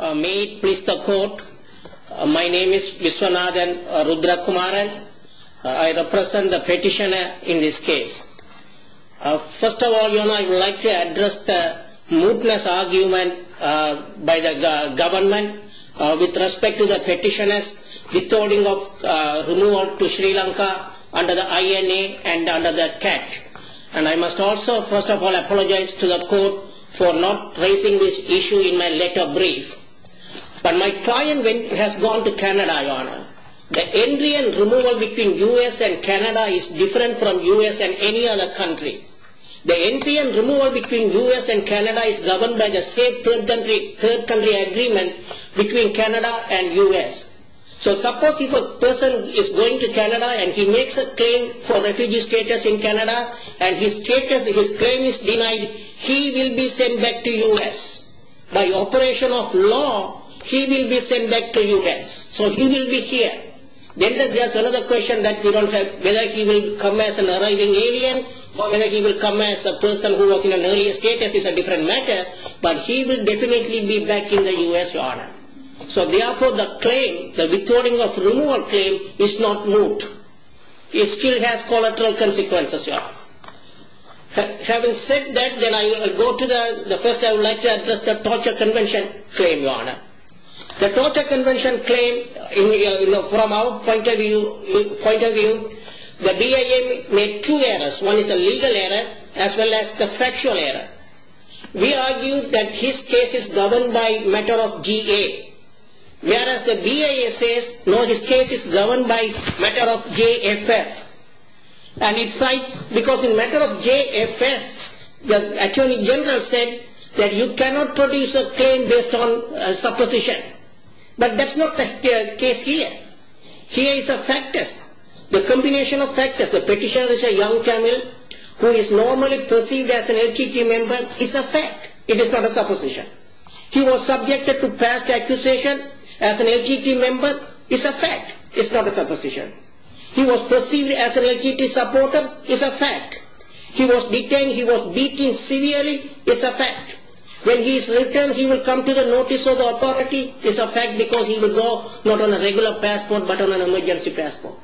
My name is Viswanathan Rudrakumaran. I represent the petitioner in this case. First of all, I would like to address the mootness argument by the government with respect to the petitioners withholding of renewal to Sri Lanka under the INA and under the CAT. And I must also first of all apologise to the court for not raising this issue in my letter brief. But my client has gone to Canada, Your Honour. The entry and removal between US and Canada is different from US and any other country. The entry and removal between US and Canada is governed by the same third country agreement between Canada and US. So suppose if a person is going to Canada and he makes a claim for refugee status in Canada and his claim is denied, he will be sent back to US. By operation of law, he will be sent back to US. So he will be here. Then there is another question whether he will come as an arriving alien or whether he will come as a person who was in an earlier status is a different matter. But he will definitely be back in the US, Your Honour. So therefore, the claim, the withholding of removal claim is not moot. It still has collateral consequences, Your Honour. Having said that, then I will go to the, first I would like to address the torture convention claim, Your Honour. The torture convention claim, from our point of view, the DIA made two errors. One is the legal error as well as the factual error. We argue that his case is governed by matter of GA, whereas the DIA says, no, his case is governed by matter of JFF. And it cites, because in matter of JFF, the attorney general said that you cannot produce a claim based on supposition. But that's not the case here. Here is a fact test. The combination of factors, the petitioner is a young criminal who is normally perceived as an LGT member is a fact. It is not a supposition. He was subjected to past accusation as an LGT member is a fact. It's not a supposition. He was perceived as an LGT supporter is a fact. He was detained, he was beaten severely is a fact. When he is returned, he will come to the notice of the authority is a fact because he will go not on a regular passport but on an emergency passport.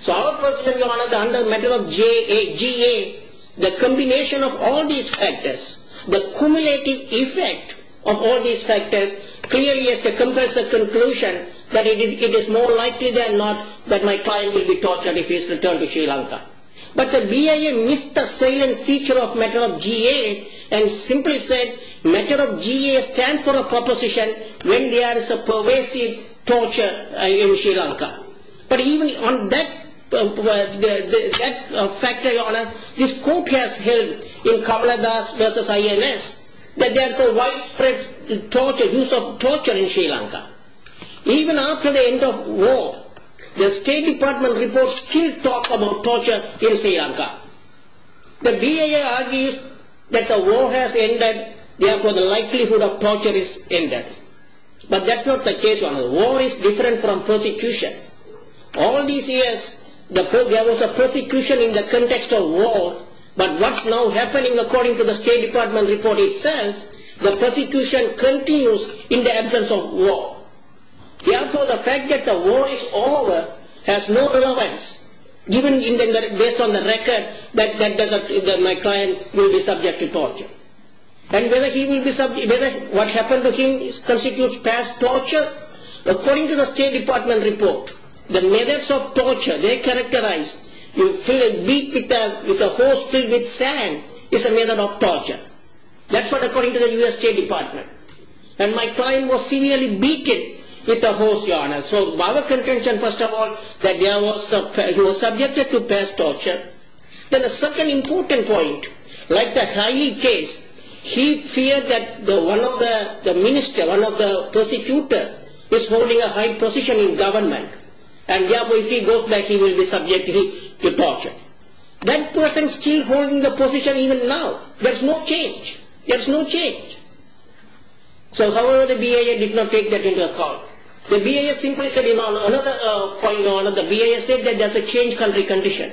So our question, Your Honour, under matter of GA, the combination of all these factors, the cumulative effect of all these factors, clearly has to compress a conclusion that it is more likely than not that my client will be tortured if he is returned to Sri Lanka. But the BIA missed the silent feature of matter of GA and simply said matter of GA stands for a proposition when there is a pervasive torture in Sri Lanka. But even on that factor, Your Honour, this court has held in Kamala Das v. INS that there is a widespread use of torture in Sri Lanka. Even after the end of war, the State Department reports still talk about torture in Sri Lanka. The BIA argues that the war has ended, therefore the likelihood of torture is ended. But that's not the case, Your Honour. War is different from persecution. All these years, there was a persecution in the context of war but what's now happening according to the State Department report itself, the persecution continues in the absence of war. Therefore the fact that the war is over has no relevance, even based on the record that my client will be subject to torture. And whether what happened to him constitutes past torture? According to the State Department report, the methods of torture they characterize, you beat with a horse filled with sand is a method of torture. That's what according to the US State Department. And my client was severely beaten with a horse, Your Honour. So, by the contention, first of all, that he was subjected to past torture. Then a second important point, like the Haile case, he feared that one of the minister, one of the prosecutor is holding a high position in government and therefore if he goes back he will be subjected to torture. That person is still holding the position even now. There is no change. So, however, the BIA did not take that into account. The BIA simply said, Your Honour, another point, Your Honour, the BIA said that there is a changed country condition.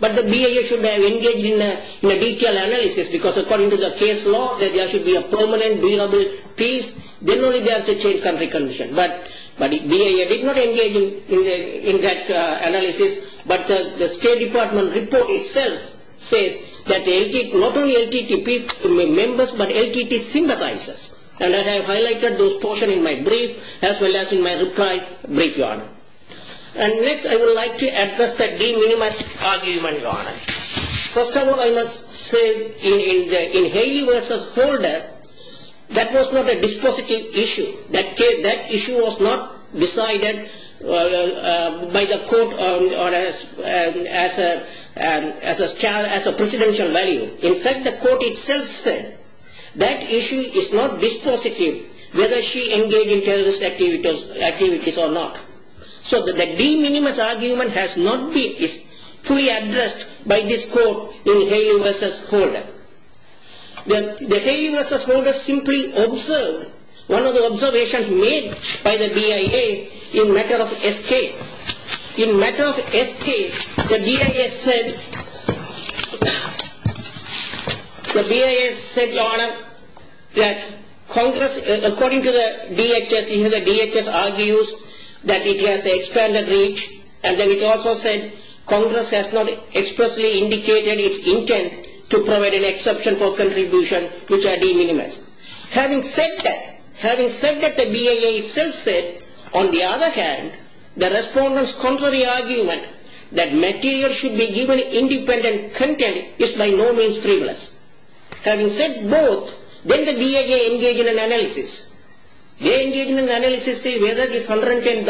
But the BIA should have engaged in a detailed analysis because according to the case law, there should be a permanent, durable peace, then only there is a changed country condition. But BIA did not engage in that analysis. But the State Department report itself says that not only LTTP members but LTT sympathizes. And I have highlighted those portions in my brief as well as in my reply brief, Your Honour. And next I would like to address the de minimis argument, Your Honour. First of all, I must say in Haile versus Holder, that was not a dispositive issue. That issue was not decided by the court as a precedential value. In fact, the court itself said that issue is not dispositive whether she engages in terrorist activities or not. So the de minimis argument has not been fully addressed by this court in Haile versus Holder. The Haile versus Holder simply observed one of the observations made by the BIA in matter of escape. In matter of escape, the BIA said, Your Honour, that according to the DHS, the DHS argues that it has expanded reach and then it also said Congress has not expressly indicated its intent to provide an exception for contribution which are de minimis. Having said that, the BIA itself said, on the other hand, the respondents' contrary argument that material should be given independent content is by no means frivolous. Having said both, then the BIA engaged in an analysis. They engaged in an analysis to see whether this $110,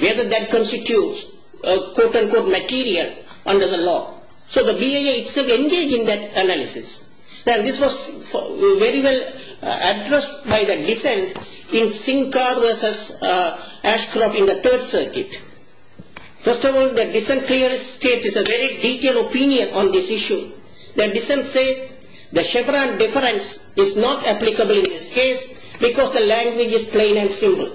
whether that constitutes a quote-unquote material under the law. So the BIA itself engaged in that analysis. Now this was very well addressed by the dissent in Sinclair versus Ashcroft in the Third Circuit. First of all, the dissent clearly states it's a very detailed opinion on this issue. The dissent said the Chevron difference is not applicable in this case because the language is plain and simple.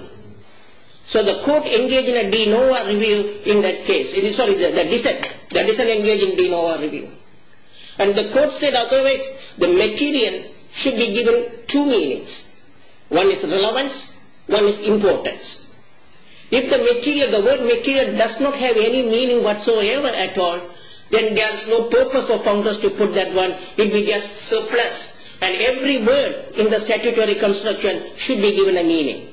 So the court engaged in a de novo review in that case. Sorry, the dissent engaged in a de novo review. And the court said otherwise the material should be given two meanings. One is relevance, one is importance. If the word material does not have any meaning whatsoever at all, then there is no purpose of Congress to put that one. It will be just surplus, and every word in the statutory construction should be given a meaning.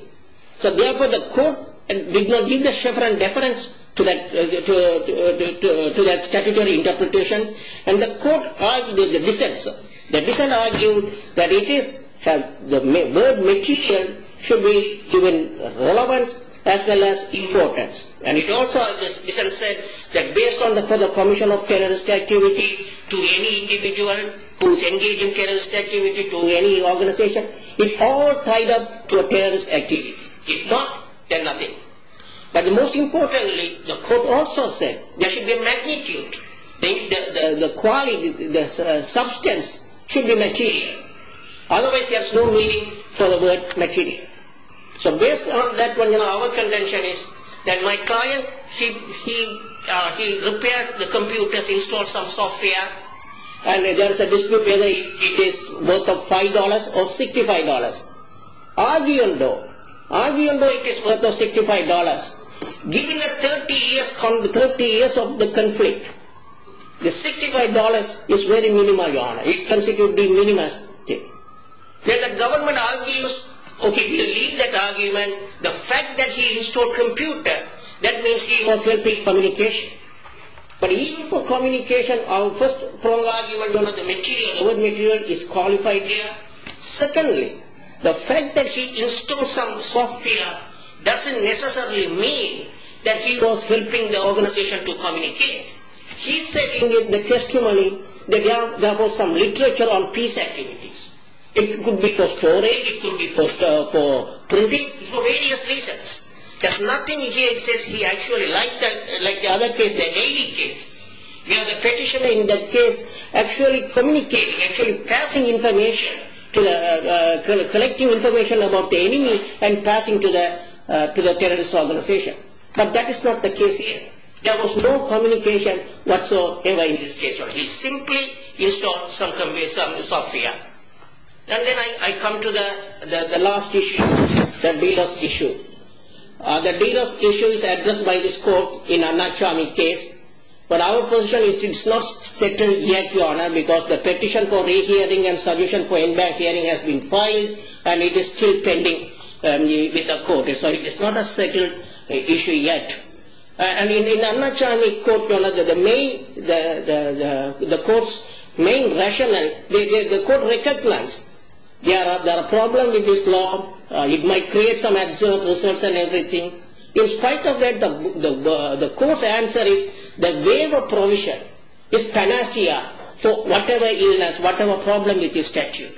So therefore the court did not give the Chevron difference to that statutory interpretation. And the court argued, the dissent said, the dissent argued that the word material should be given relevance as well as importance. And it also, the dissent said that based on the commission of terrorist activity to any individual who is engaged in terrorist activity to any organization, it all tied up to a terrorist activity. If not, then nothing. But most importantly, the court also said there should be magnitude. The quality, the substance should be material. Otherwise there is no meaning for the word material. So based on that one, our contention is that my client, he repaired the computers, installed some software, and there is a dispute whether it is worth of $5 or $65. Arguing though, arguing though it is worth of $65, given the 30 years of the conflict, the $65 is very minimal, Your Honor. It constitutes the minimal thing. Then the government argues, OK, we will leave that argument. The fact that he installed computer, that means he was helping communication. But even for communication, our first argument was the material. Word material is qualified there. Secondly, the fact that he installed some software doesn't necessarily mean that he was helping the organization to communicate. He said in the testimony that there was some literature on peace activities. It could be for storage, it could be for printing, for various reasons. There is nothing here that says he actually liked that, like the other case, the Navy case. We have the petitioner in that case actually communicating, actually passing information, collecting information about the enemy and passing to the terrorist organization. But that is not the case here. There was no communication whatsoever in this case. He simply installed some software. And then I come to the last issue, the D-Loss issue. The D-Loss issue is addressed by this court in Anarchami case. But our position is it's not settled yet, Your Honor, because the petition for re-hearing and solution for in-bank hearing has been filed and it is still pending with the court. So it is not a settled issue yet. And in the Anarchami court, Your Honor, the court's main rationale, the court recognized there are problems with this law. It might create some results and everything. In spite of that, the court's answer is the waiver provision is panacea for whatever illness, whatever problem with the statute.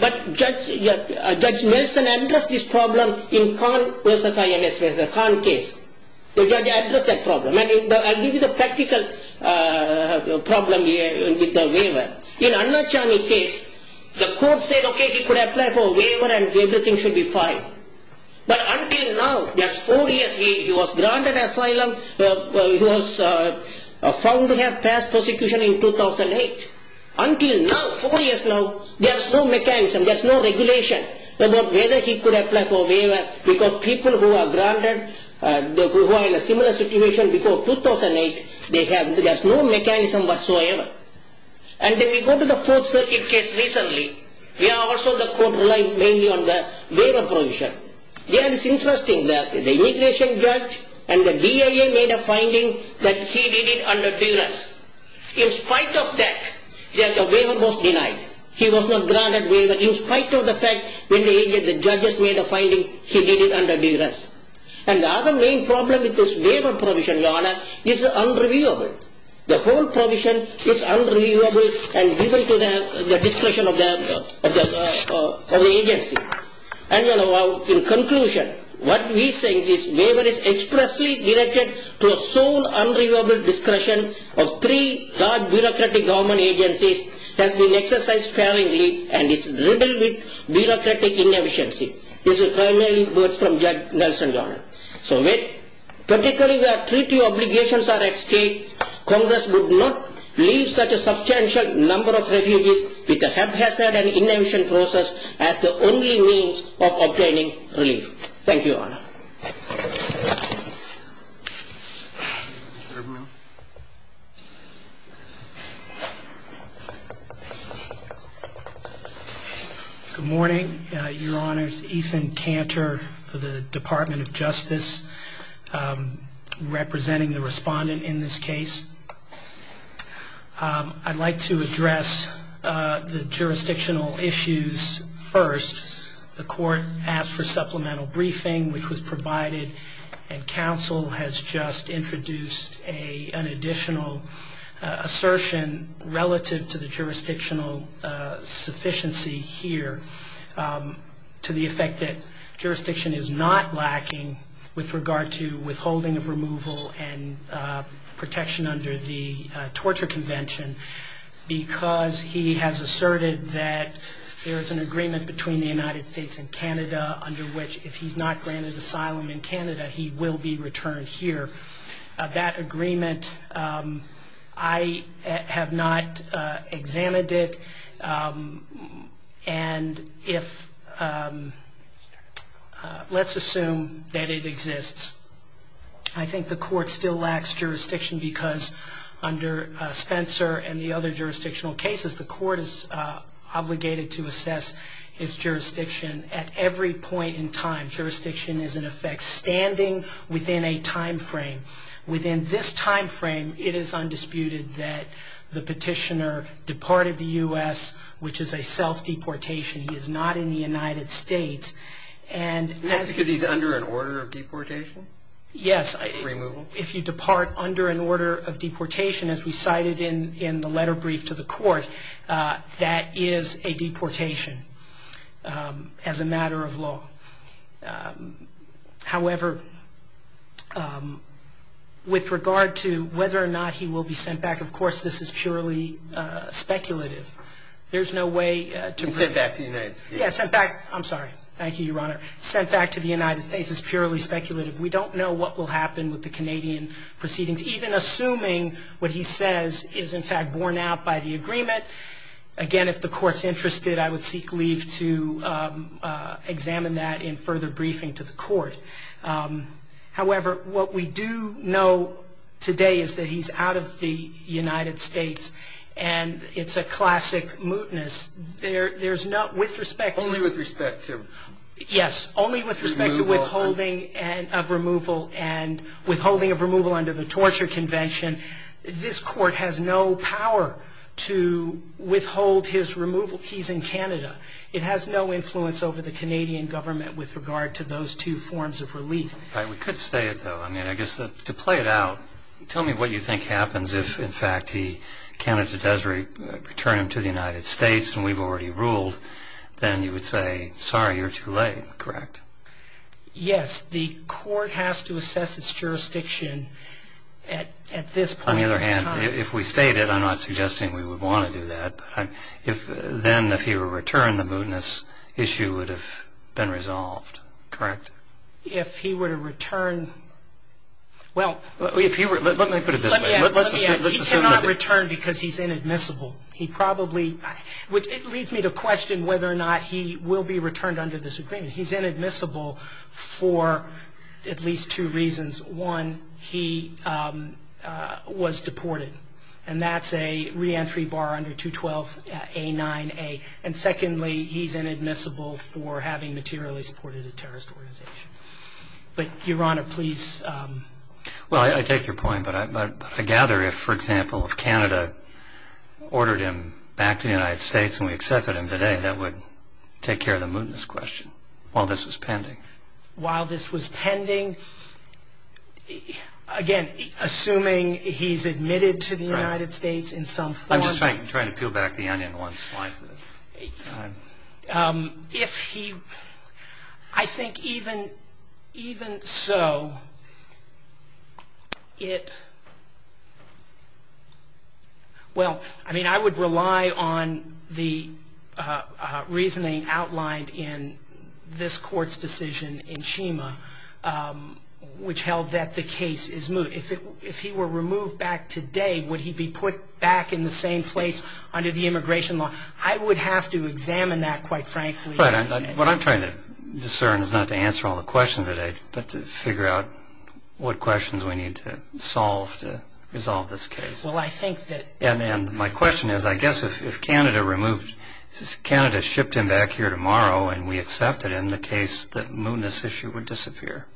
But Judge Nelson addressed this problem in Khan v. IMS, the Khan case. The judge addressed that problem. I'll give you the practical problem with the waiver. In Anarchami case, the court said, OK, he could apply for waiver and everything should be fine. But until now, that four years he was granted asylum, he was found to have passed prosecution in 2008. Until now, four years now, there's no mechanism, there's no regulation about whether he could apply for waiver because people who are granted, who are in a similar situation before 2008, there's no mechanism whatsoever. And then we go to the Fourth Circuit case recently, where also the court relied mainly on the waiver provision. There it's interesting that the immigration judge and the DIA made a finding that he did it under duress. In spite of that, the waiver was denied. He was not granted waiver in spite of the fact when the judges made a finding, he did it under duress. And the other main problem with this waiver provision, Your Honor, is unreviewable. The whole provision is unreviewable and given to the discretion of the agency. And in conclusion, what we think is waiver is expressly directed to a sole unreviewable discretion of three large bureaucratic government agencies has been exercised sparingly and is riddled with bureaucratic inefficiency. These are primarily words from Judge Nelson, Your Honor. So when particularly the treaty obligations are at stake, Congress would not leave such a substantial number of refugees with a haphazard and inefficient process as the only means of obtaining relief. Thank you, Your Honor. Mr. Eberman. Good morning, Your Honors. Ethan Cantor for the Department of Justice, representing the respondent in this case. I'd like to address the jurisdictional issues first. The court asked for supplemental briefing, which was provided, and counsel has just introduced an additional assertion relative to the jurisdictional sufficiency here to the effect that jurisdiction is not lacking with regard to withholding of removal and protection under the torture convention because he has asserted that there is an agreement between the United States and Canada under which if he's not granted asylum in Canada, he will be returned here. That agreement, I have not examined it, and let's assume that it exists. I think the court still lacks jurisdiction because under Spencer and the other jurisdictional cases, the court is obligated to assess its jurisdiction at every point in time. Jurisdiction is, in effect, standing within a time frame. Within this time frame, it is undisputed that the petitioner departed the U.S., which is a self-deportation. He is not in the United States. That's because he's under an order of deportation? Yes. Removal? If you depart under an order of deportation, as we cited in the letter brief to the court, that is a deportation as a matter of law. However, with regard to whether or not he will be sent back, of course this is purely speculative. There's no way to prove it. Sent back to the United States. Yes, sent back. I'm sorry. Thank you, Your Honor. Sent back to the United States is purely speculative. We don't know what will happen with the Canadian proceedings, even assuming what he says is, in fact, borne out by the agreement. Again, if the court's interested, I would seek leave to examine that in further briefing to the court. However, what we do know today is that he's out of the United States, and it's a classic mootness. There's no – with respect to – Only with respect to – Yes. Only with respect to withholding of removal, and withholding of removal under the Torture Convention. This court has no power to withhold his removal. He's in Canada. It has no influence over the Canadian government with regard to those two forms of relief. We could say it, though. I mean, I guess to play it out, tell me what you think happens if, in fact, he – Canada does return him to the United States and we've already ruled. Then you would say, sorry, you're too late, correct? Yes. The court has to assess its jurisdiction at this point in time. On the other hand, if we stayed it, I'm not suggesting we would want to do that, but then if he were returned, the mootness issue would have been resolved, correct? If he were to return – well – Let me put it this way. Let's assume that – He cannot return because he's inadmissible. He probably – it leads me to question whether or not he will be returned under this agreement. He's inadmissible for at least two reasons. One, he was deported, and that's a reentry bar under 212A9A. And secondly, he's inadmissible for having materially supported a terrorist organization. But, Your Honor, please – Well, I take your point, but I gather if, for example, if Canada ordered him back to the United States and we accepted him today, Canada would take care of the mootness question while this was pending. While this was pending, again, assuming he's admitted to the United States in some form – I'm just trying to peel back the onion one slice at a time. If he – I think even so, it – Well, I mean, I would rely on the reasoning outlined in this Court's decision in Shima, which held that the case is moot. If he were removed back today, would he be put back in the same place under the immigration law? I would have to examine that, quite frankly. Right. What I'm trying to discern is not to answer all the questions today, but to figure out what questions we need to solve to resolve this case. Well, I think that – And my question is, I guess if Canada removed – if Canada shipped him back here tomorrow and we accepted him, the case that mootness issue would disappear.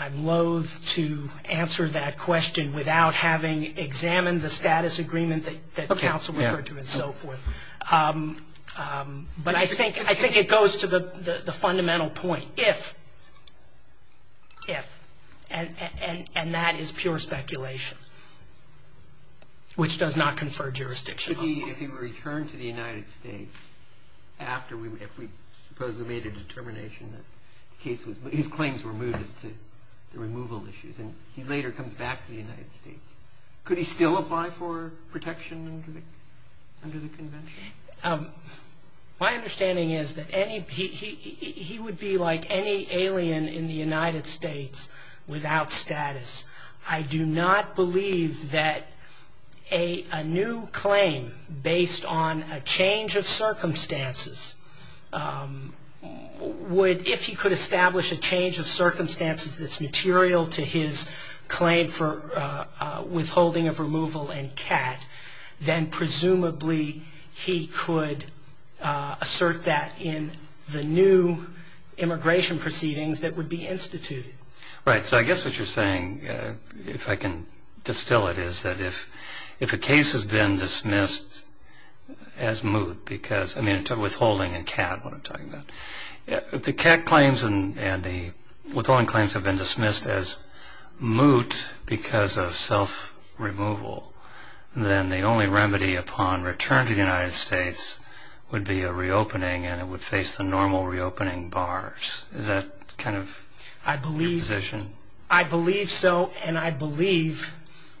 I'm loathe to answer that question without having examined the status agreement that counsel referred to and so forth. But I think it goes to the fundamental point, if – if – and that is pure speculation, which does not confer jurisdiction. If he were returned to the United States after we – if we supposedly made a determination that the case was – his claims were mootness to the removal issues, and he later comes back to the United States, could he still apply for protection under the convention? My understanding is that any – he would be like any alien in the United States without status. I do not believe that a new claim based on a change of circumstances would – withholding of removal and CAT, then presumably he could assert that in the new immigration proceedings that would be instituted. Right. So I guess what you're saying, if I can distill it, is that if a case has been dismissed as moot because – I mean withholding and CAT, what I'm talking about. If the CAT claims and the withholding claims have been dismissed as moot because of self-removal, then the only remedy upon return to the United States would be a reopening and it would face the normal reopening bars. Is that kind of your position? I believe – I believe so and I believe,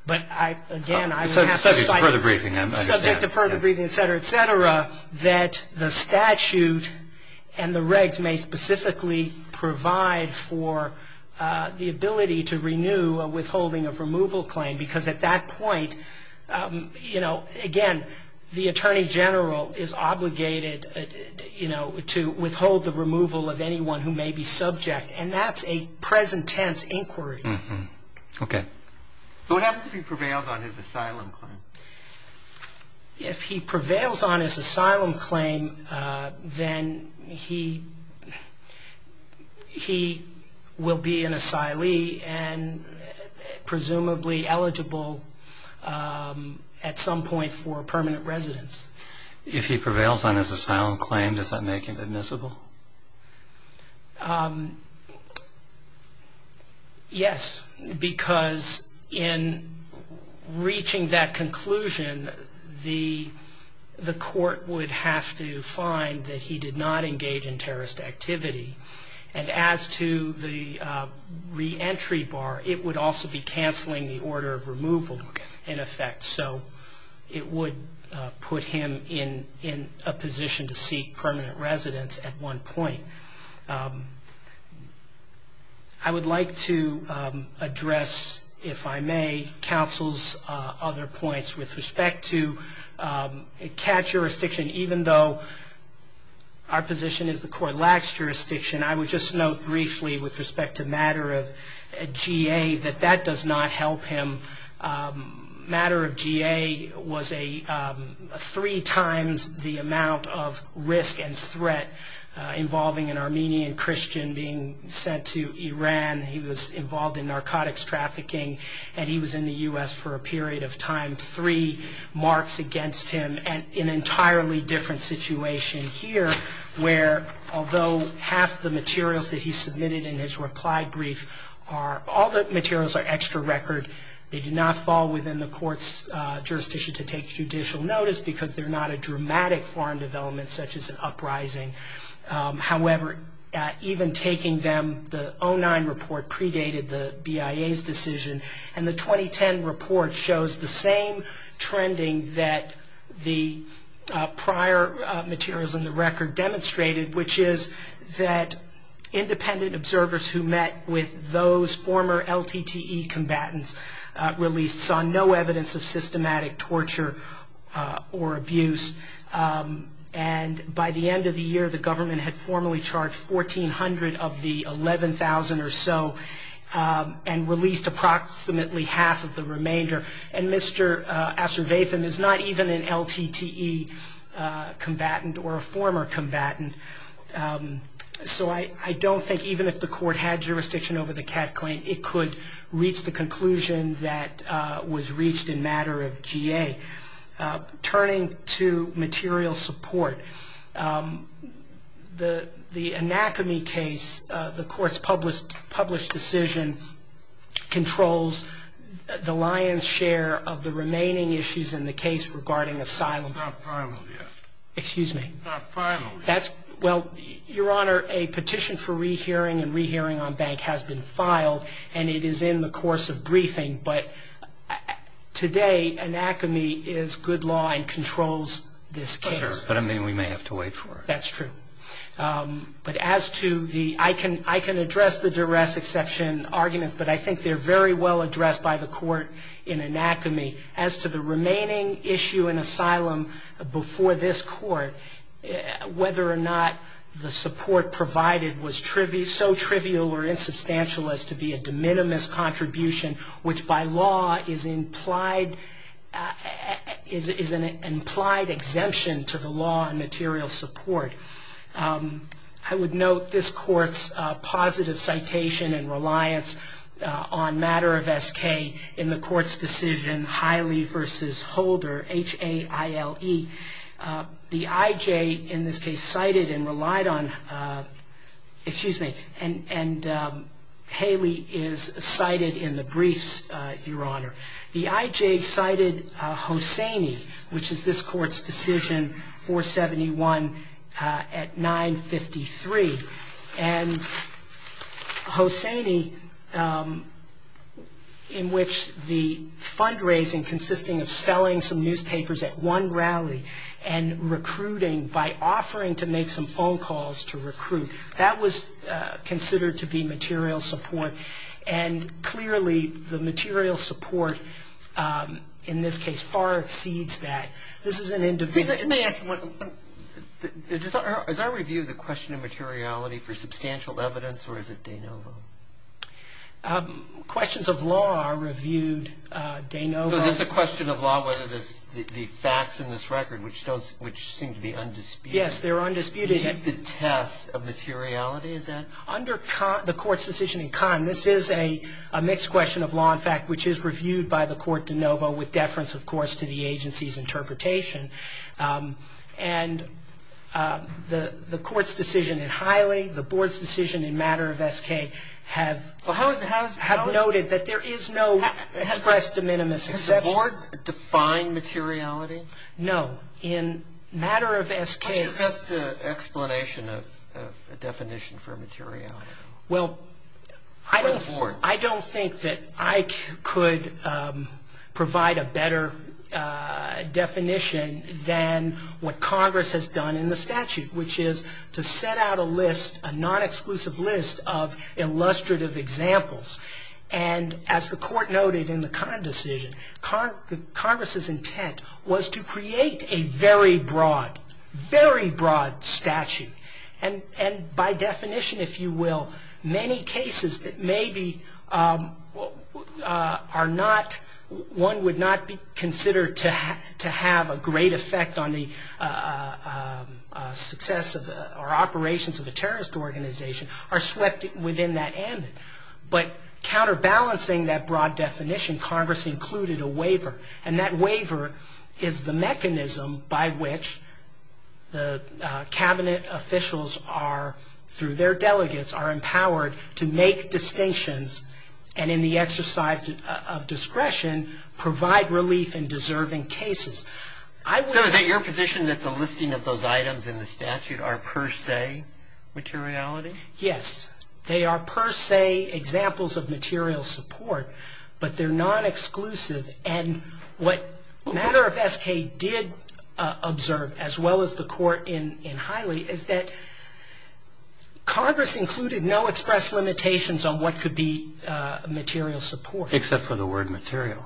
but I – again, I would have to cite – Subject to further briefing, I understand. Subject to further briefing, et cetera, et cetera, that the statute and the regs may specifically provide for the ability to renew a withholding of removal claim because at that point, you know, again, the Attorney General is obligated, you know, to withhold the removal of anyone who may be subject and that's a present tense inquiry. Okay. What happens if he prevails on his asylum claim? If he prevails on his asylum claim, then he will be an asylee and presumably eligible at some point for permanent residence. If he prevails on his asylum claim, does that make him admissible? Yes, because in reaching that conclusion, the court would have to find that he did not engage in terrorist activity and as to the reentry bar, it would also be canceling the order of removal in effect, so it would put him in a position to seek permanent residence at one point. I would like to address, if I may, counsel's other points with respect to CAT jurisdiction. Even though our position is the court lacks jurisdiction, I would just note briefly with respect to matter of GA that that does not help him. Matter of GA was three times the amount of risk and threat involving an Armenian Christian being sent to Iran. He was involved in narcotics trafficking and he was in the U.S. for a period of time, three marks against him and an entirely different situation here where although half the materials that he submitted in his reply brief are, all the materials are extra record. They do not fall within the court's jurisdiction to take judicial notice because they're not a dramatic foreign development such as an uprising. However, even taking them, the 09 report predated the BIA's decision and the 2010 report shows the same trending that the prior materials in the record demonstrated, which is that independent observers who met with those former LTTE combatants released saw no evidence of systematic torture or abuse. And by the end of the year, the government had formally charged 1,400 of the 11,000 or so and released approximately half of the remainder. And Mr. Asirvatham is not even an LTTE combatant or a former combatant. So I don't think even if the court had jurisdiction over the CAT claim, it could reach the conclusion that was reached in matter of GA. Turning to material support, the anacomy case, the court's published decision, controls the lion's share of the remaining issues in the case regarding asylum. It's not final yet. Excuse me? It's not final yet. Well, Your Honor, a petition for rehearing and rehearing on bank has been filed and it is in the course of briefing, but today anacomy is good law and controls this case. But, I mean, we may have to wait for it. That's true. But as to the, I can address the duress exception arguments, but I think they're very well addressed by the court in anacomy. As to the remaining issue in asylum before this court, whether or not the support provided was so trivial or insubstantial as to be a de minimis contribution, which by law is implied, is an implied exemption to the law and material support. I would note this court's positive citation and reliance on matter of SK in the court's decision, Hiley v. Holder, H-A-I-L-E. The IJ in this case cited and relied on, excuse me, and Haley is cited in the briefs, Your Honor. The IJ cited Hosseini, which is this court's decision, 471 at 953. And Hosseini, in which the fundraising consisting of selling some newspapers at one rally and recruiting by offering to make some phone calls to recruit, that was considered to be material support. And clearly the material support in this case far exceeds that. This is an individual. Let me ask one. Does our review of the question of materiality for substantial evidence or is it de novo? Questions of law are reviewed de novo. So this is a question of law, whether the facts in this record, which seem to be undisputed. Yes, they're undisputed. Meet the test of materiality, is that? Under the court's decision in con, this is a mixed question of law and fact, which is reviewed by the court de novo with deference, of course, to the agency's interpretation. And the court's decision in Haley, the board's decision in matter of SK have noted that there is no express de minimis exception. Has the board defined materiality? No. In matter of SK. What's your best explanation of a definition for materiality? Well, I don't think that I could provide a better definition than what Congress has done in the statute, which is to set out a list, a non-exclusive list of illustrative examples. And as the court noted in the con decision, Congress's intent was to create a very broad, very broad statute. And by definition, if you will, many cases that maybe are not, one would not be considered to have a great effect on the success or operations of a terrorist organization, are swept within that ambit. But counterbalancing that broad definition, Congress included a waiver. And that waiver is the mechanism by which the cabinet officials are, through their delegates, are empowered to make distinctions and in the exercise of discretion, provide relief in deserving cases. So is it your position that the listing of those items in the statute are per se materiality? Yes. They are per se examples of material support. But they're non-exclusive. And what Matter of S.K. did observe, as well as the court in Hiley, is that Congress included no express limitations on what could be material support. Except for the word material.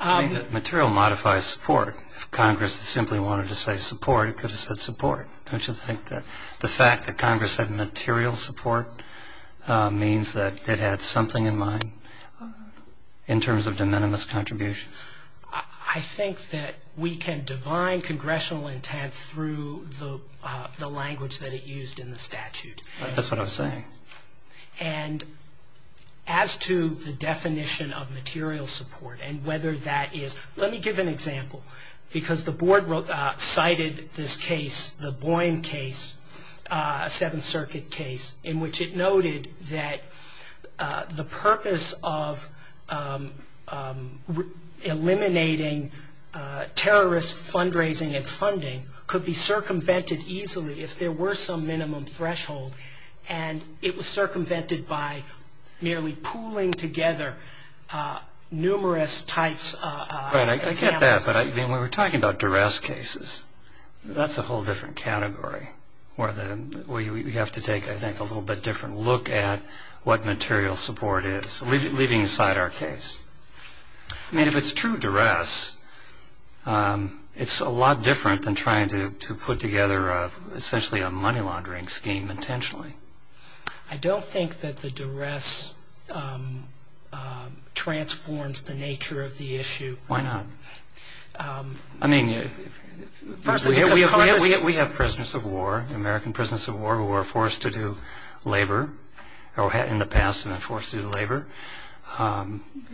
Material modifies support. If Congress simply wanted to say support, it could have said support. Don't you think that the fact that Congress said material support means that it had something in mind, in terms of de minimis contributions? I think that we can divine congressional intent through the language that it used in the statute. That's what I was saying. And as to the definition of material support and whether that is, let me give an example. Because the board cited this case, the Boyne case, Seventh Circuit case, in which it noted that the purpose of eliminating terrorist fundraising and funding could be circumvented easily if there were some minimum threshold. And it was circumvented by merely pooling together numerous types. I get that. But when we're talking about duress cases, that's a whole different category. We have to take, I think, a little bit different look at what material support is, leaving aside our case. I mean, if it's true duress, it's a lot different than trying to put together, essentially, a money laundering scheme intentionally. I don't think that the duress transforms the nature of the issue. Why not? I mean, we have prisoners of war, American prisoners of war, who were forced to do labor, or had in the past been forced to do labor.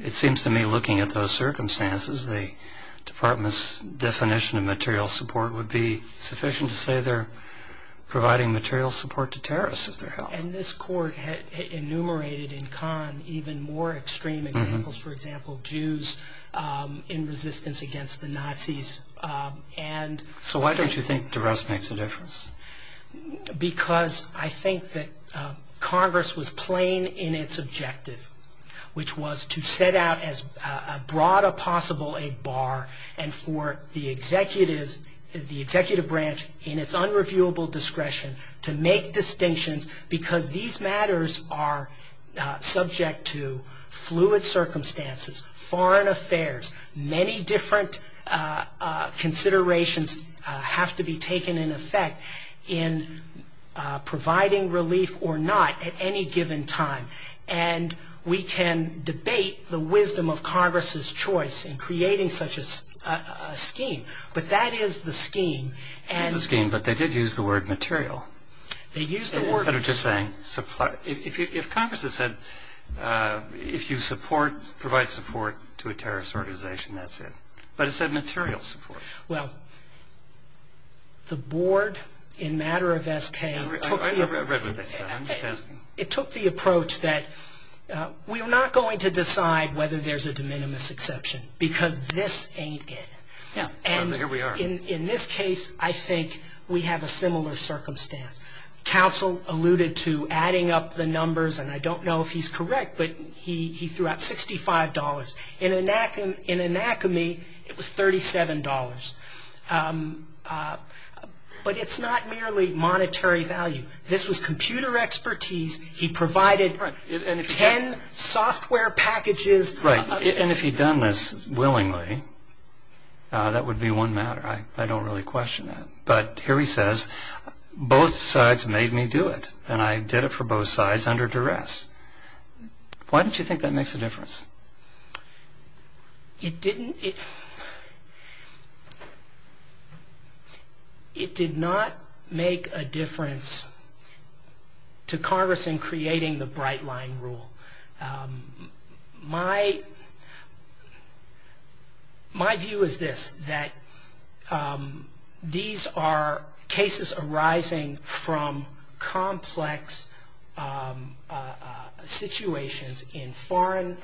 It seems to me, looking at those circumstances, the department's definition of material support would be sufficient to say that they're providing material support to terrorists, if they're held. And this court enumerated in Kahn even more extreme examples, for example, Jews in resistance against the Nazis. So why don't you think duress makes a difference? Because I think that Congress was plain in its objective, which was to set out as broad a possible bar, and for the executive branch, in its unreviewable discretion, to make distinctions, because these matters are subject to fluid circumstances, foreign affairs. Many different considerations have to be taken into effect in providing relief or not at any given time. And we can debate the wisdom of Congress's choice in creating such a scheme. But that is the scheme. It is the scheme, but they did use the word material. They used the word material. Instead of just saying supply. If Congress had said, if you provide support to a terrorist organization, that's it. But it said material support. Well, the board in matter of SK took the approach. I read what they said. It took the approach that we're not going to decide whether there's a de minimis exception, because this ain't it. And in this case, I think we have a similar circumstance. Counsel alluded to adding up the numbers, and I don't know if he's correct, but he threw out $65. In anachrony, it was $37. But it's not merely monetary value. This was computer expertise. He provided 10 software packages. Right. And if he'd done this willingly, that would be one matter. I don't really question that. But here he says, both sides made me do it, and I did it for both sides under duress. Why don't you think that makes a difference? It didn't. It did not make a difference to Congress in creating the Bright Line Rule. My view is this, that these are cases arising from complex situations in foreign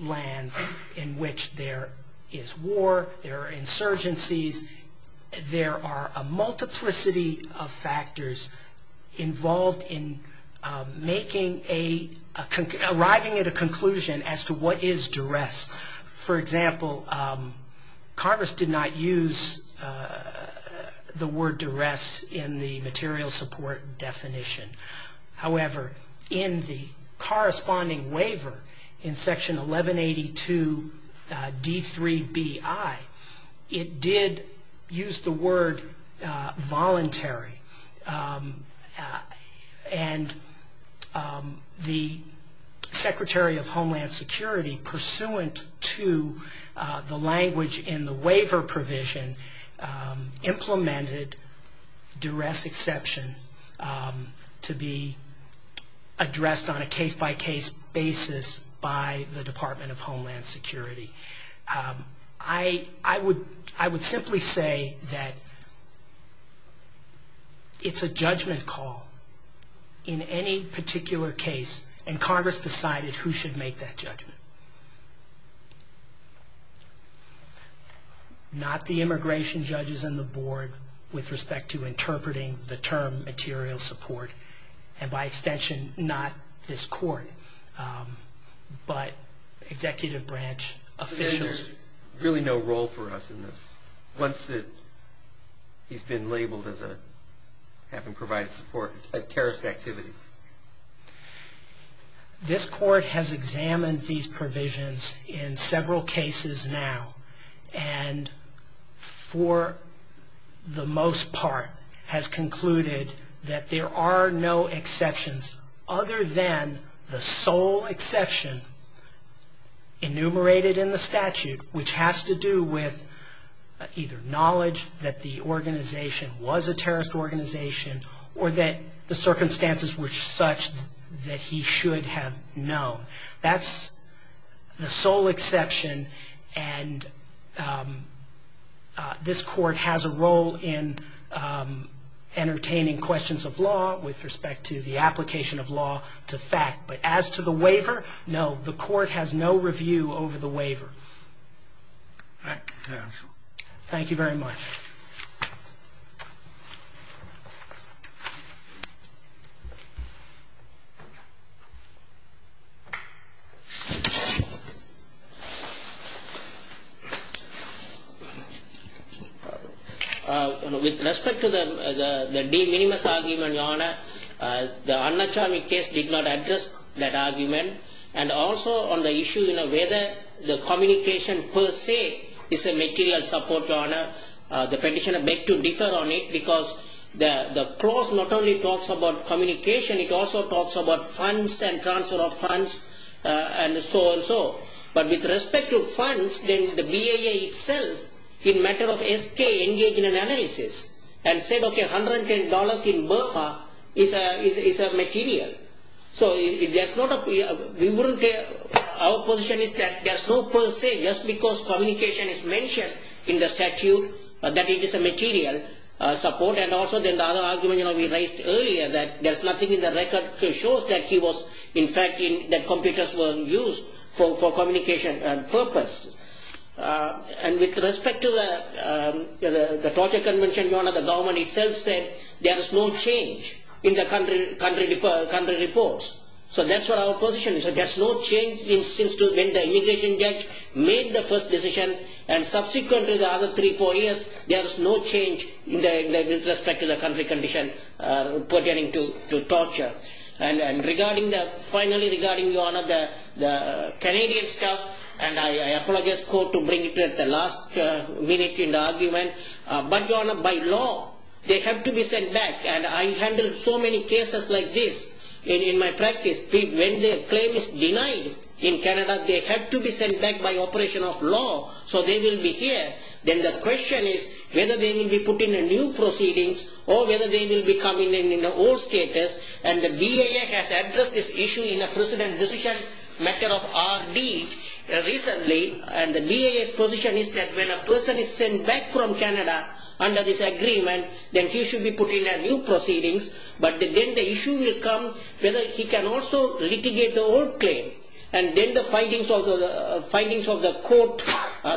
lands in which there is war. There are insurgencies. There are a multiplicity of factors involved in arriving at a conclusion as to what is duress. For example, Congress did not use the word duress in the material support definition. However, in the corresponding waiver in Section 1182 D3BI, it did use the word voluntary. And the Secretary of Homeland Security, pursuant to the language in the waiver provision, implemented duress exception to be addressed on a case-by-case basis by the Department of Homeland Security. I would simply say that it's a judgment call in any particular case, and Congress decided who should make that judgment. Not the immigration judges in the board with respect to interpreting the term material support, and by extension, not this court, but executive branch officials. So then there's really no role for us in this, once he's been labeled as having provided support at terrorist activities? This court has examined these provisions in several cases now, and for the most part, has concluded that there are no exceptions other than the sole exception enumerated in the statute, which has to do with either knowledge that the organization was a terrorist organization, or that the circumstances were such that he should have known. That's the sole exception, and this court has a role in entertaining questions of law with respect to the application of law to fact. But as to the waiver, no, the court has no review over the waiver. Thank you, counsel. Thank you very much. With respect to the de minimis argument, your honor, the Annachami case did not address that argument, and also on the issue of whether the communication per se is a material support, your honor, the petitioner beg to differ on it, because the clause not only talks about communication, it also talks about funds and transfer of funds, and so on and so forth. But with respect to funds, the BIA itself, in the matter of SK, engaged in an analysis, and said, okay, $110 in Burma is a material. Our position is that there's no per se, just because communication is mentioned in the statute, that it is a material support, and also the other argument we raised earlier, that there's nothing in the record that shows that he was, in fact, that computers were used for communication purpose. And with respect to the torture convention, your honor, the government itself said there is no change in the country reports. So that's what our position is. There's no change since the immigration judge made the first decision, and subsequently, the other three, four years, there's no change with respect to the country condition pertaining to torture. And finally, regarding, your honor, the Canadian stuff, and I apologize to the court to bring it at the last minute in the argument, but, your honor, by law, they have to be sent back, and I handle so many cases like this in my practice. When the claim is denied in Canada, they have to be sent back by operation of law, so they will be here, then the question is whether they will be put in a new proceedings, or whether they will become in the old status, and the BIA has addressed this issue in a precedent decision matter of RD recently, and the BIA's position is that when a person is sent back from Canada under this agreement, then he should be put in a new proceedings, but then the issue will come whether he can also litigate the old claim, and then the findings of the court,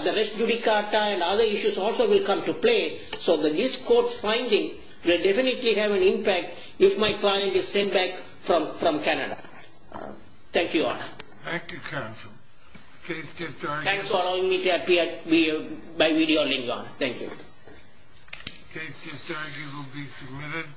the res judicata, and other issues also will come to play, so that this court's finding will definitely have an impact if my client is sent back from Canada. Thank you, your honor. Thank you, counsel. Thanks for allowing me to appear by video link, your honor. Thank you. Case just argued will be submitted.